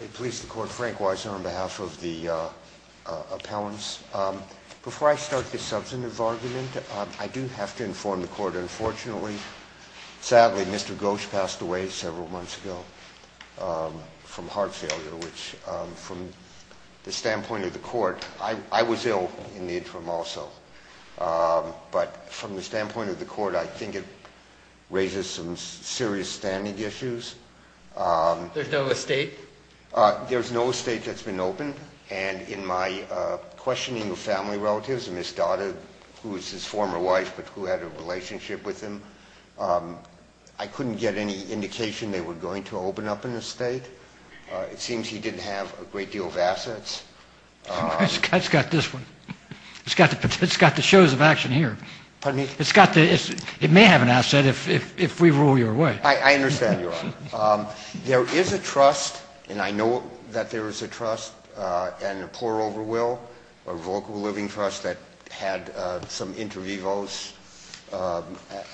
I please the court, Frank Weiser, on behalf of the appellants. Before I start the substantive argument, I do have to inform the court, unfortunately, sadly, Mr. Ghosh passed away several months ago from heart failure, which, from the standpoint of the court, I was ill in the interim also, but from the standpoint of the court, I think it raises some serious standing issues. There's no estate? There's no estate that's been opened, and in my questioning of family relatives, Ms. Dada, who is his former wife, but who had a relationship with him, I couldn't get any indication they were going to open up an estate. It seems he didn't have a great deal of assets. It's got this one. It's got the shows of action here. Pardon me? It's got the, it may have an asset if we rule your way. I understand, Your Honor. There is a trust, and I know that there is a trust, and a pour-over will, a local living trust that had some inter vivos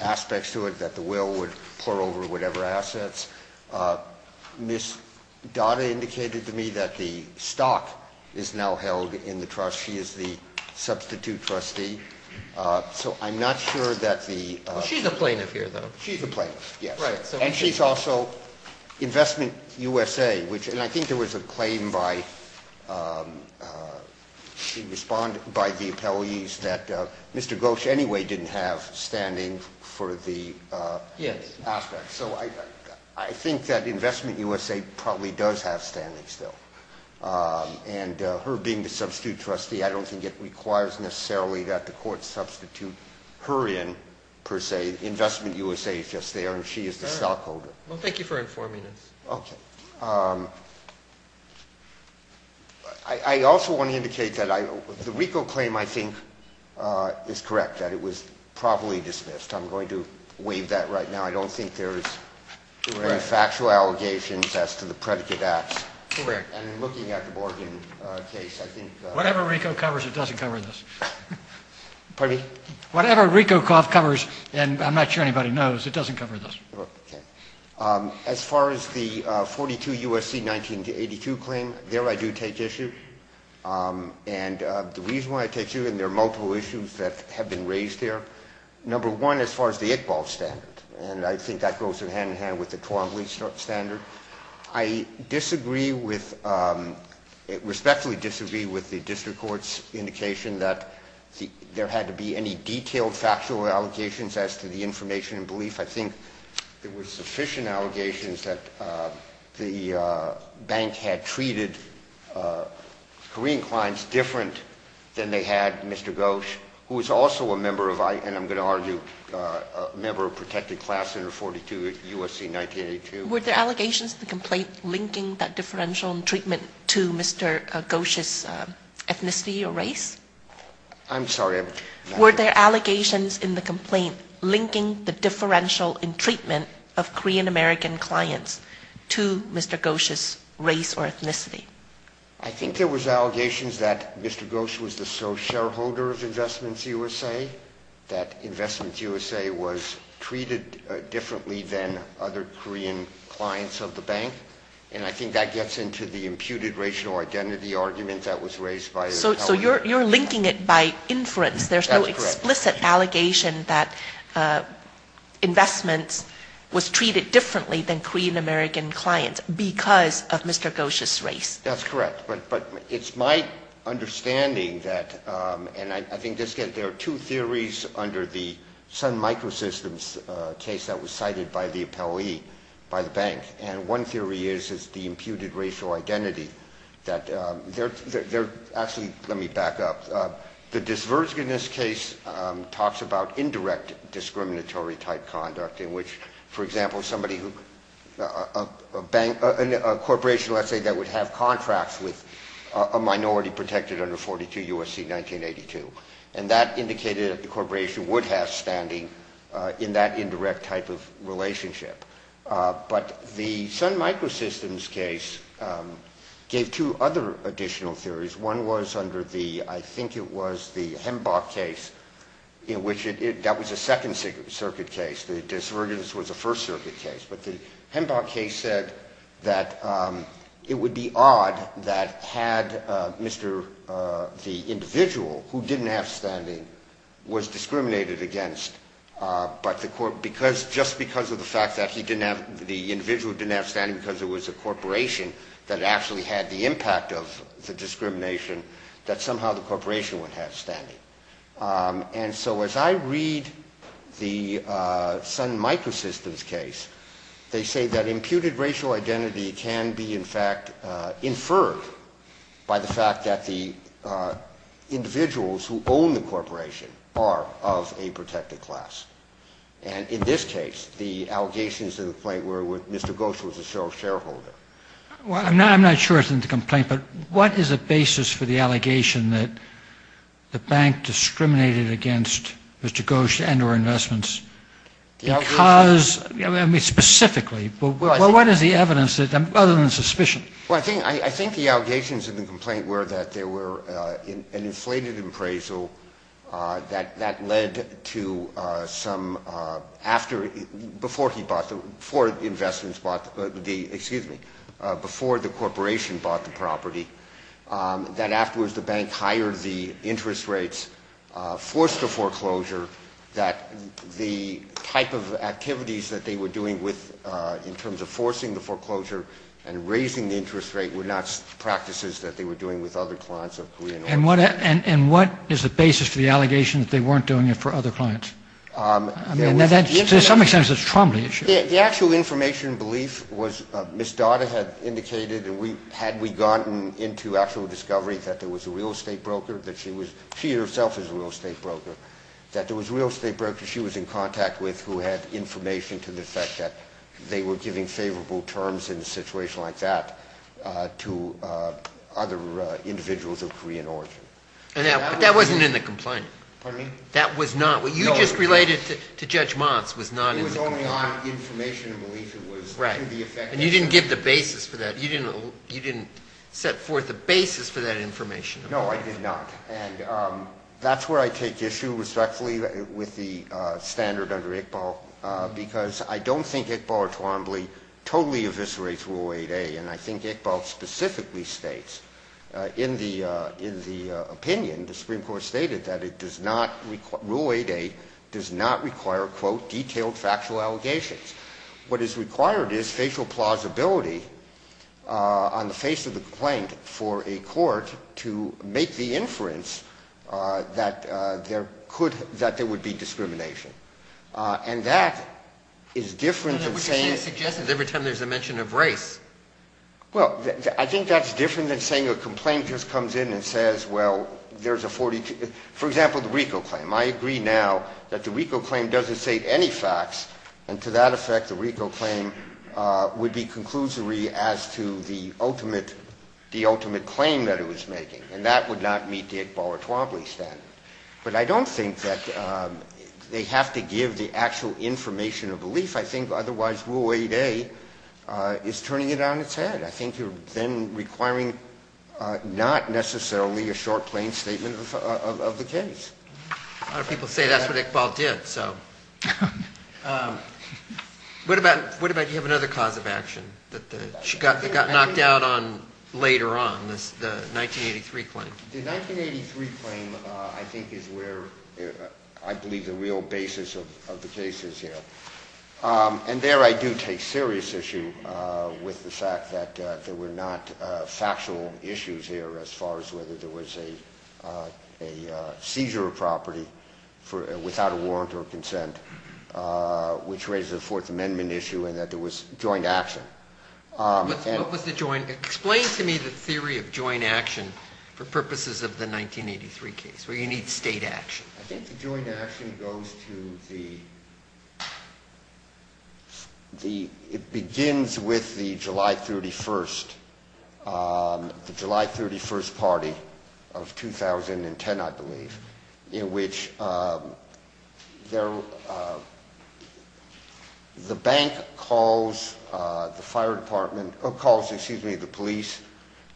aspects to it that the will would pour over whatever assets. Ms. Dada indicated to me that the stock is now held in the trust. She is the substitute trustee, so I'm not sure that the She's a plaintiff here, though. She's a plaintiff, yes. Right. And she's also Investment USA, which, and I think there was a claim by, she responded, by the appellees that Mr. Gulsh anyway didn't have standing for the aspect. So I think that Investment USA probably does have standing still. And her being the substitute trustee, I don't think it requires necessarily that the court substitute her in, per se. Investment USA is just there, and she is the stockholder. Well, thank you for informing us. Okay. I also want to indicate that the RICO claim, I think, is correct, that it was probably dismissed. I'm going to waive that right now. I don't think there's any factual allegations as to the predicate acts. Correct. And looking at the bargain case, I think— Whatever RICO covers, it doesn't cover this. Pardon me? Whatever RICO covers, and I'm not sure anybody knows, it doesn't cover this. Okay. As far as the 42 U.S.C. 1982 claim, there I do take issue. And the reason why I take issue, and there are multiple issues that have been raised there, number one, as far as the Iqbal standard, and I think that goes hand-in-hand with the Tuomint standard. I respectfully disagree with the district court's indication that there had to be any detailed factual allegations as to the information and belief. I think there were sufficient allegations that the bank had treated Korean clients different than they had Mr. Ghosh, who was also a member of, and I'm going to argue, a member of protected class under 42 U.S.C. 1982. Were there allegations in the complaint linking that differential in treatment to Mr. Ghosh's ethnicity or race? I'm sorry? Were there allegations in the complaint linking the differential in treatment of Korean-American clients to Mr. Ghosh's race or ethnicity? I think there was allegations that Mr. Ghosh was the sole shareholder of Investments USA, that Investments USA was treated differently than other Korean clients of the bank, and I think that gets into the imputed racial identity argument that was raised by his colleague. So you're linking it by inference. There's no explicit allegation that Investments was treated differently than Korean-American clients because of Mr. Ghosh's race. That's correct, but it's my understanding that, and I think there are two theories under the Sun Microsystems case that was cited by the appellee by the bank. And one theory is it's the imputed racial identity. Actually, let me back up. The Divergeness case talks about indirect discriminatory-type conduct in which, for example, a corporation, let's say, that would have contracts with a minority protected under 42 U.S.C. 1982. And that indicated that the corporation would have standing in that indirect type of relationship. But the Sun Microsystems case gave two other additional theories. One was under the, I think it was the Hembach case, in which that was a Second Circuit case. The Divergence was a First Circuit case. But the Hembach case said that it would be odd that had the individual who didn't have standing was discriminated against, but just because of the fact that the individual didn't have standing because it was a corporation that actually had the impact of the discrimination, that somehow the corporation would have standing. And so as I read the Sun Microsystems case, they say that imputed racial identity can be, in fact, inferred by the fact that the individuals who own the corporation are of a protected class. And in this case, the allegations in the complaint were that Mr. Gosch was a shareholder. Well, I'm not sure it's in the complaint, but what is the basis for the allegation that the bank discriminated against Mr. Gosch and or investments? Because, I mean, specifically, what is the evidence other than suspicion? Well, I think the allegations in the complaint were that there were an inflated appraisal that led to some, before he bought the, before investments bought the, excuse me, before the corporation bought the property, that afterwards the bank hired the interest rates, forced the foreclosure, that the type of activities that they were doing with, in terms of forcing the foreclosure and raising the interest rate, were not practices that they were doing with other clients of Korean oil. And what is the basis for the allegation that they weren't doing it for other clients? I mean, to some extent, it's a Trombley issue. The actual information belief was Ms. Dada had indicated, and had we gotten into actual discovery that there was a real estate broker, that she was, she herself is a real estate broker, that there was a real estate broker she was in contact with who had information to the effect that they were giving favorable terms in a situation like that to other individuals of Korean origin. But that wasn't in the complaint. Pardon me? That was not. What you just related to Judge Motz was not in the complaint. It was only on information belief. Right. And you didn't give the basis for that. You didn't set forth the basis for that information. No, I did not. And that's where I take issue respectfully with the standard under Iqbal, because I don't think Iqbal or Trombley totally eviscerate rule 8A. And I think Iqbal specifically states in the opinion the Supreme Court stated that it does not, rule 8A does not require, quote, detailed factual allegations. What is required is facial plausibility on the face of the complaint for a court to make the inference that there could, that there would be discrimination. And that is different than saying. I mean, it suggests that every time there's a mention of race. Well, I think that's different than saying a complaint just comes in and says, well, there's a 42. For example, the RICO claim. I agree now that the RICO claim doesn't state any facts. And to that effect, the RICO claim would be conclusory as to the ultimate claim that it was making. And that would not meet the Iqbal or Trombley standard. But I don't think that they have to give the actual information of belief. I think otherwise rule 8A is turning it on its head. I think you're then requiring not necessarily a short plain statement of the case. A lot of people say that's what Iqbal did. So what about you have another cause of action that got knocked out on later on, the 1983 claim? The 1983 claim, I think, is where I believe the real basis of the case is here. And there I do take serious issue with the fact that there were not factual issues here as far as whether there was a seizure of property without a warrant or consent, which raises a Fourth Amendment issue and that there was joint action. Explain to me the theory of joint action for purposes of the 1983 case, where you need state action. I think the joint action goes to the ‑‑ it begins with the July 31st, the July 31st party of 2010, I believe, in which the bank calls the police,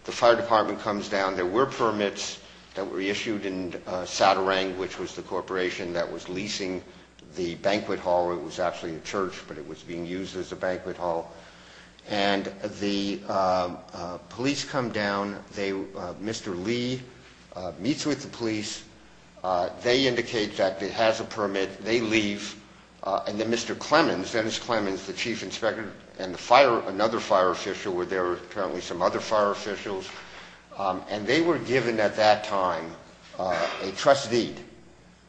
the fire department comes down. There were permits that were issued in Sadarang, which was the corporation that was leasing the banquet hall. It was actually a church, but it was being used as a banquet hall. And the police come down. Mr. Lee meets with the police. They indicate that it has a permit. They leave. And then Mr. Clemmons, Dennis Clemmons, the chief inspector and another fire official were there, apparently some other fire officials, and they were given at that time a trust deed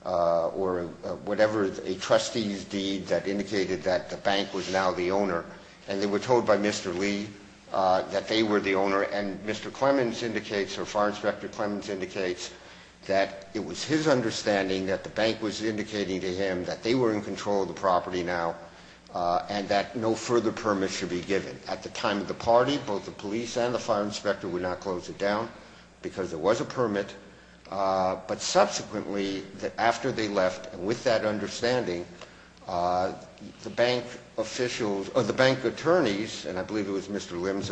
or whatever, a trustee's deed that indicated that the bank was now the owner. And they were told by Mr. Lee that they were the owner, and Mr. Clemmons indicates, or Fire Inspector Clemmons indicates, that it was his understanding that the bank was indicating to him that they were in control of the property now and that no further permit should be given. At the time of the party, both the police and the fire inspector would not close it down because there was a permit. But subsequently, after they left, with that understanding, the bank attorneys, and I believe it was Mr. Lim's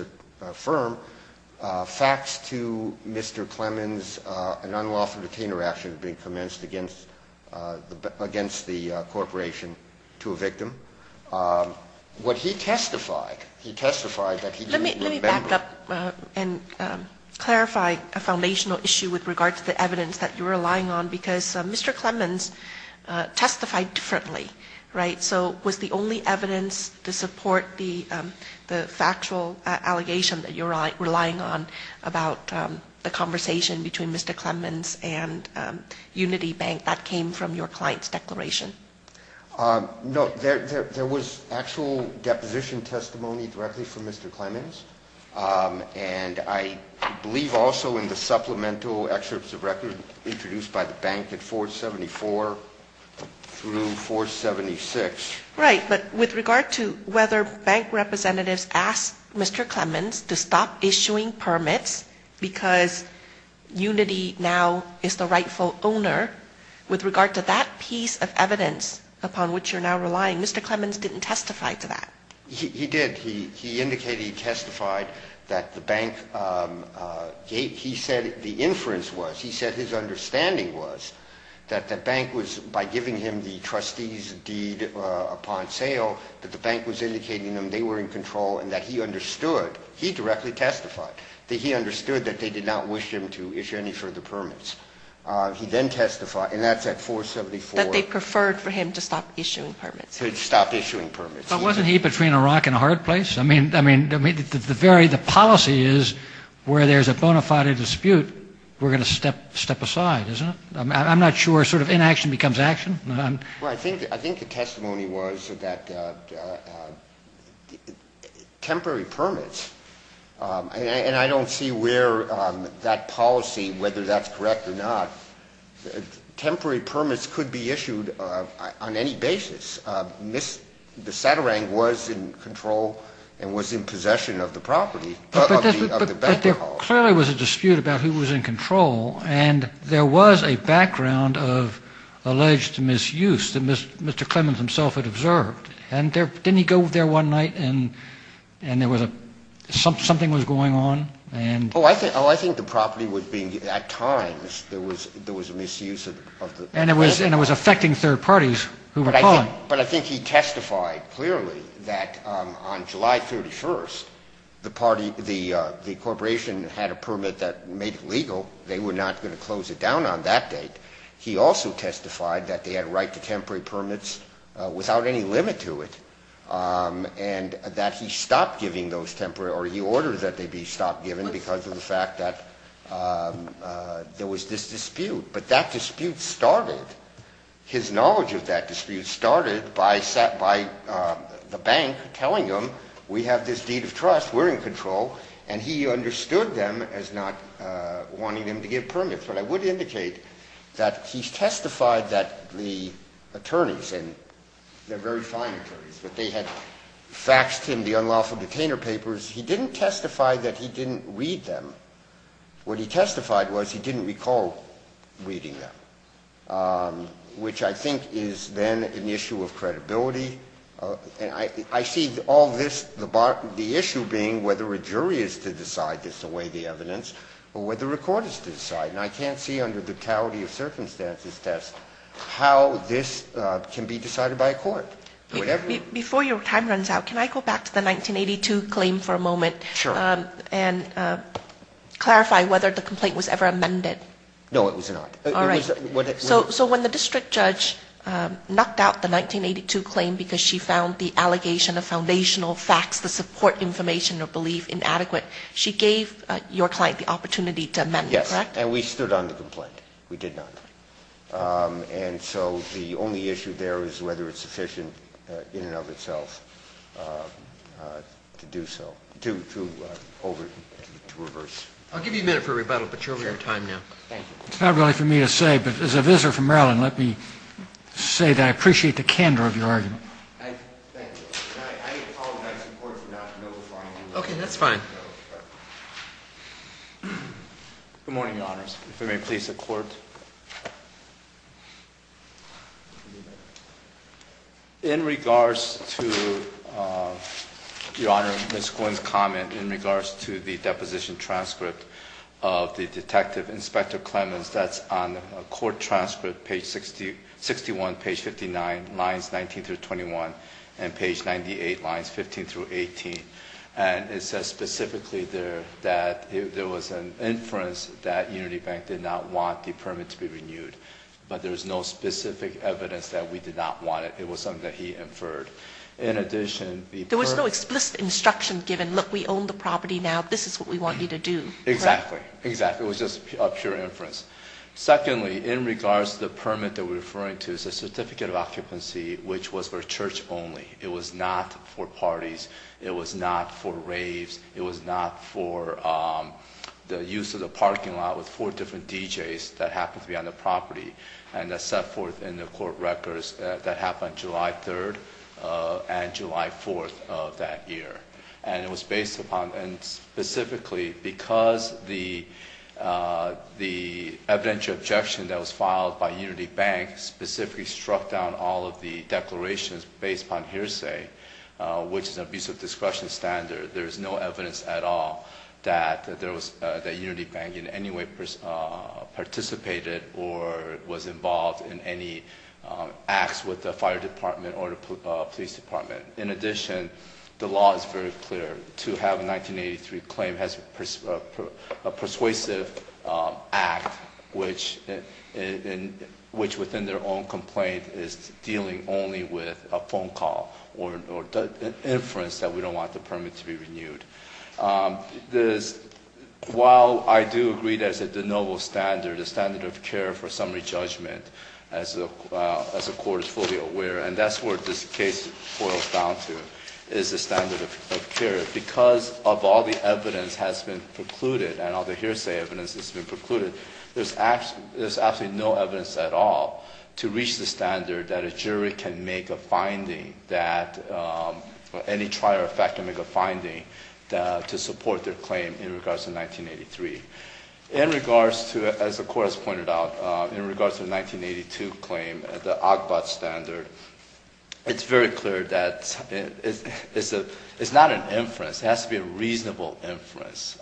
firm, faxed to Mr. Clemmons an unlawful detainer action being commenced against the corporation to a victim. What he testified, he testified that he didn't remember. Let me back up and clarify a foundational issue with regard to the evidence that you're relying on, because Mr. Clemmons testified differently, right? So was the only evidence to support the factual allegation that you're relying on about the conversation between Mr. Clemmons and Unity Bank, that came from your client's declaration? No, there was actual deposition testimony directly from Mr. Clemmons, and I believe also in the supplemental excerpts of record introduced by the bank at 474 through 476. Right, but with regard to whether bank representatives asked Mr. Clemmons to stop issuing permits because Unity now is the rightful owner, with regard to that piece of evidence upon which you're now relying, Mr. Clemmons didn't testify to that. He did. He indicated he testified that the bank, he said the inference was, he said his understanding was, that the bank was, by giving him the trustee's deed upon sale, that the bank was indicating to him they were in control and that he understood, he directly testified, that he understood that they did not wish him to issue any further permits. He then testified, and that's at 474. That they preferred for him to stop issuing permits. To stop issuing permits. But wasn't he between a rock and a hard place? I mean, the policy is where there's a bona fide dispute, we're going to step aside, isn't it? I'm not sure sort of inaction becomes action. Well, I think the testimony was that temporary permits, and I don't see where that policy, whether that's correct or not, temporary permits could be issued on any basis. The Satarang was in control and was in possession of the property. But there clearly was a dispute about who was in control, and there was a background of alleged misuse that Mr. Clemens himself had observed. And didn't he go there one night and there was a, something was going on? Oh, I think the property was being, at times there was a misuse of the. And it was affecting third parties who were calling. But I think he testified clearly that on July 31st, the party, the corporation had a permit that made it legal, they were not going to close it down on that date. He also testified that they had right to temporary permits without any limit to it. And that he stopped giving those temporary, or he ordered that they be stopped given because of the fact that there was this dispute. But that dispute started, his knowledge of that dispute started by the bank telling him we have this deed of trust, we're in control. And he understood them as not wanting him to give permits. But I would indicate that he testified that the attorneys, and they're very fine attorneys, but they had faxed him the unlawful detainer papers. He didn't testify that he didn't read them. What he testified was he didn't recall reading them, which I think is then an issue of credibility. And I see all this, the issue being whether a jury is to decide this, the way the evidence, or whether a court is to decide. And I can't see under the totality of circumstances test how this can be decided by a court. Before your time runs out, can I go back to the 1982 claim for a moment? Sure. And clarify whether the complaint was ever amended. No, it was not. All right. So when the district judge knocked out the 1982 claim because she found the allegation of foundational facts, the support information or belief inadequate, she gave your client the opportunity to amend it, correct? Yes. And we stood on the complaint. We did not. And so the only issue there is whether it's sufficient in and of itself to do so, to reverse. I'll give you a minute for rebuttal, but you're over your time now. Thank you. It's not really for me to say, but as a visitor from Maryland, let me say that I appreciate the candor of your argument. Thank you. I apologize in court for not knowing before I came here. Okay. That's fine. Good morning, Your Honors. If I may please the Court. In regards to, Your Honor, Ms. Quinn's comment in regards to the deposition transcript of the detective, Inspector Clemens, that's on the court transcript, page 61, page 59, lines 19 through 21, and page 98, lines 15 through 18. And it says specifically there that there was an inference that Unity Bank did not want the permit to be renewed, but there's no specific evidence that we did not want it. It was something that he inferred. In addition, the permit... There was no explicit instruction given, look, we own the property now. This is what we want you to do. Correct? Exactly. Exactly. It was just a pure inference. Secondly, in regards to the permit that we're referring to, it's a certificate of occupancy, which was for church only. It was not for parties. It was not for raves. It was not for the use of the parking lot with four different DJs that happened to be on the property, and that's set forth in the court records that happened July 3rd and July 4th of that year. And it was based upon... And specifically because the evidentiary objection that was filed by Unity Bank specifically struck down all of the declarations based upon hearsay, which is an abuse of discretion standard. There is no evidence at all that Unity Bank in any way participated or was involved in any acts with the fire department or the police department. In addition, the law is very clear. To have a 1983 claim as a persuasive act, which within their own complaint is dealing only with a phone call or an inference that we don't want the permit to be renewed. While I do agree that it's a de novo standard, a standard of care for summary judgment, as the court is fully aware, and that's what this case boils down to, is the standard of care. Because of all the evidence has been precluded and all the hearsay evidence has been precluded, there's absolutely no evidence at all to reach the standard that a jury can make a finding that... Any trial or fact can make a finding to support their claim in regards to 1983. In regards to... As the court has pointed out, in regards to the 1982 claim, the OGBOT standard, it's very clear that it's not an inference. It has to be a reasonable inference.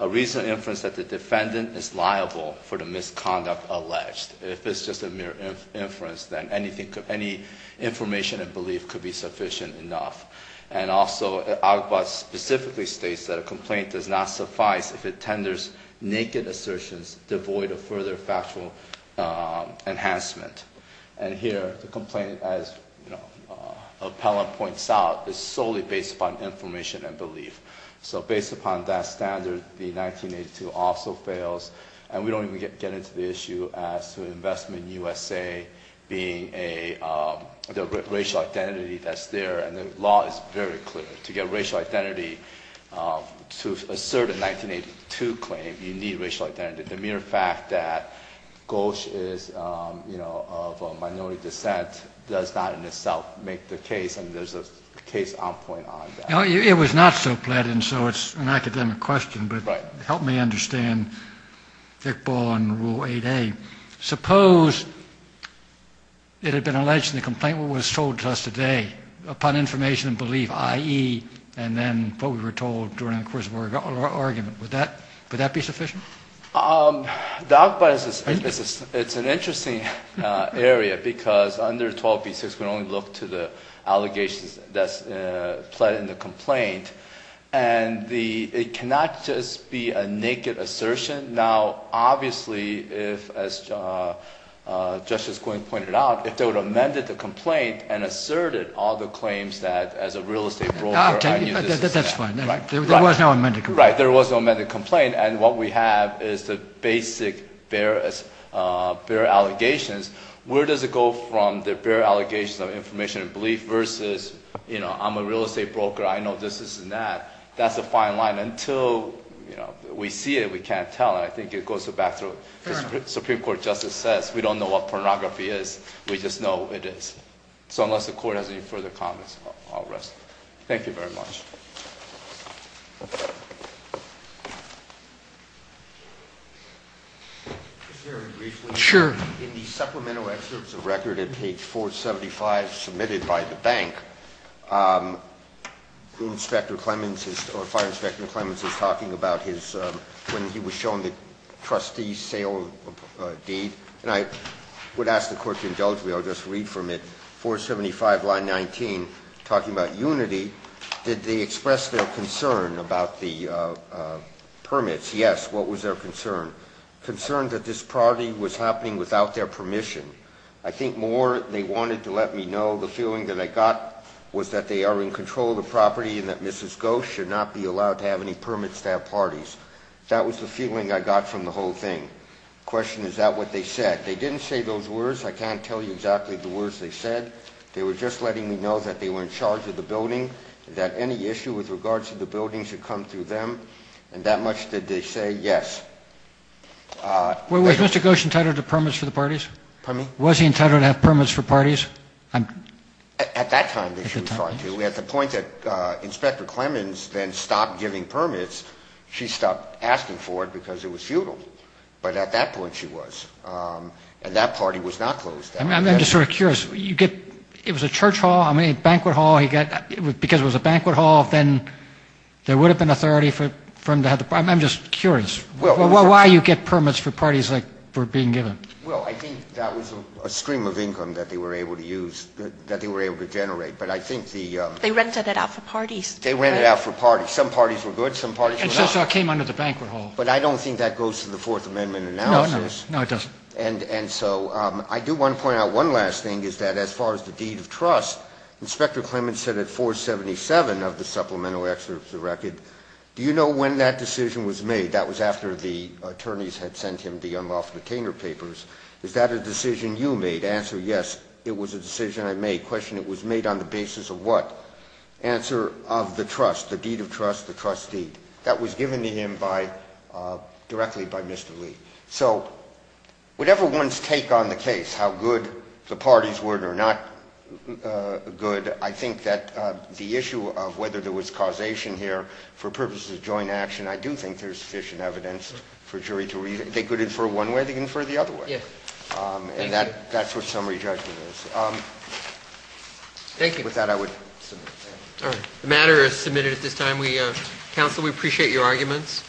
A reasonable inference that the defendant is liable for the misconduct alleged. If it's just a mere inference, then any information and belief could be sufficient enough. And also, OGBOT specifically states that a complaint does not suffice if it tenders naked assertions devoid of further factual enhancement. And here, the complaint, as Appellant points out, is solely based upon information and belief. So based upon that standard, the 1982 also fails, and we don't even get into the issue as to investment in USA being a... The racial identity that's there, and the law is very clear. To get racial identity, to assert a 1982 claim, you need racial identity. The mere fact that Gauche is, you know, of a minority descent does not in itself make the case, and there's a case on point on that. It was not so plain, and so it's an academic question. Right. Help me understand thick ball on Rule 8A. Suppose it had been alleged in the complaint what was told to us today, upon information and belief, i.e., and then what we were told during the course of our argument. Would that be sufficient? The OGBOT, it's an interesting area, because under 12B6, we only look to the allegations that's pled in the complaint. And it cannot just be a naked assertion. Now, obviously, as Justice Quinn pointed out, if they would have amended the complaint and asserted all the claims that as a real estate broker... That's fine. There was no amended complaint. Right. There was no amended complaint, and what we have is the basic bare allegations. Where does it go from the bare allegations of information and belief versus, you know, I'm a real estate broker. I know this, this, and that. That's the fine line. Until, you know, we see it, we can't tell. And I think it goes back to what the Supreme Court Justice says. We don't know what pornography is. We just know it is. So, unless the Court has any further comments, I'll rest. Thank you very much. Just very briefly. Sure. In the supplemental excerpts of record at page 475 submitted by the bank, Fire Inspector Clemens is talking about when he was shown the trustee sale deed. And I would ask the Court to indulge me. I'll just read from it. 475, line 19, talking about unity. Did they express their concern about the permits? Yes. What was their concern? Concern that this property was happening without their permission. I think more they wanted to let me know the feeling that I got was that they are in control of the property and that Mrs. Goh should not be allowed to have any permits to have parties. That was the feeling I got from the whole thing. The question is, is that what they said? They didn't say those words. I can't tell you exactly the words they said. They were just letting me know that they were in charge of the building, that any issue with regards to the building should come through them. And that much did they say? Yes. Was Mr. Gosch entitled to permits for the parties? Pardon me? Was he entitled to have permits for parties? At that time, yes, he was entitled to. At the point that Inspector Clemens then stopped giving permits, she stopped asking for it because it was futile. But at that point, she was. And that party was not closed. I'm just sort of curious. It was a church hall, a banquet hall. Because it was a banquet hall, then there would have been authority for him to have the permits. I'm just curious. Why do you get permits for parties for being given? Well, I think that was a stream of income that they were able to use, that they were able to generate. But I think the ‑‑ They rented it out for parties. They rented it out for parties. Some parties were good, some parties were not. And so it came under the banquet hall. But I don't think that goes to the Fourth Amendment analysis. No, it doesn't. And so I do want to point out one last thing, is that as far as the deed of trust, Inspector Clemens said at 477 of the supplemental excerpts of the record, do you know when that decision was made? That was after the attorneys had sent him the unlawful detainer papers. Is that a decision you made? Answer, yes, it was a decision I made. Question, it was made on the basis of what? Answer, of the trust, the deed of trust, the trust deed. That was given to him directly by Mr. Lee. So whatever one's take on the case, how good the parties were or not good, I think that the issue of whether there was causation here for purposes of joint action, I do think there's sufficient evidence for jury to ‑‑ they could infer one way, they could infer the other way. And that's what summary judgment is. Thank you. With that, I would submit. All right. The matter is submitted at this time. Counsel, we appreciate your arguments.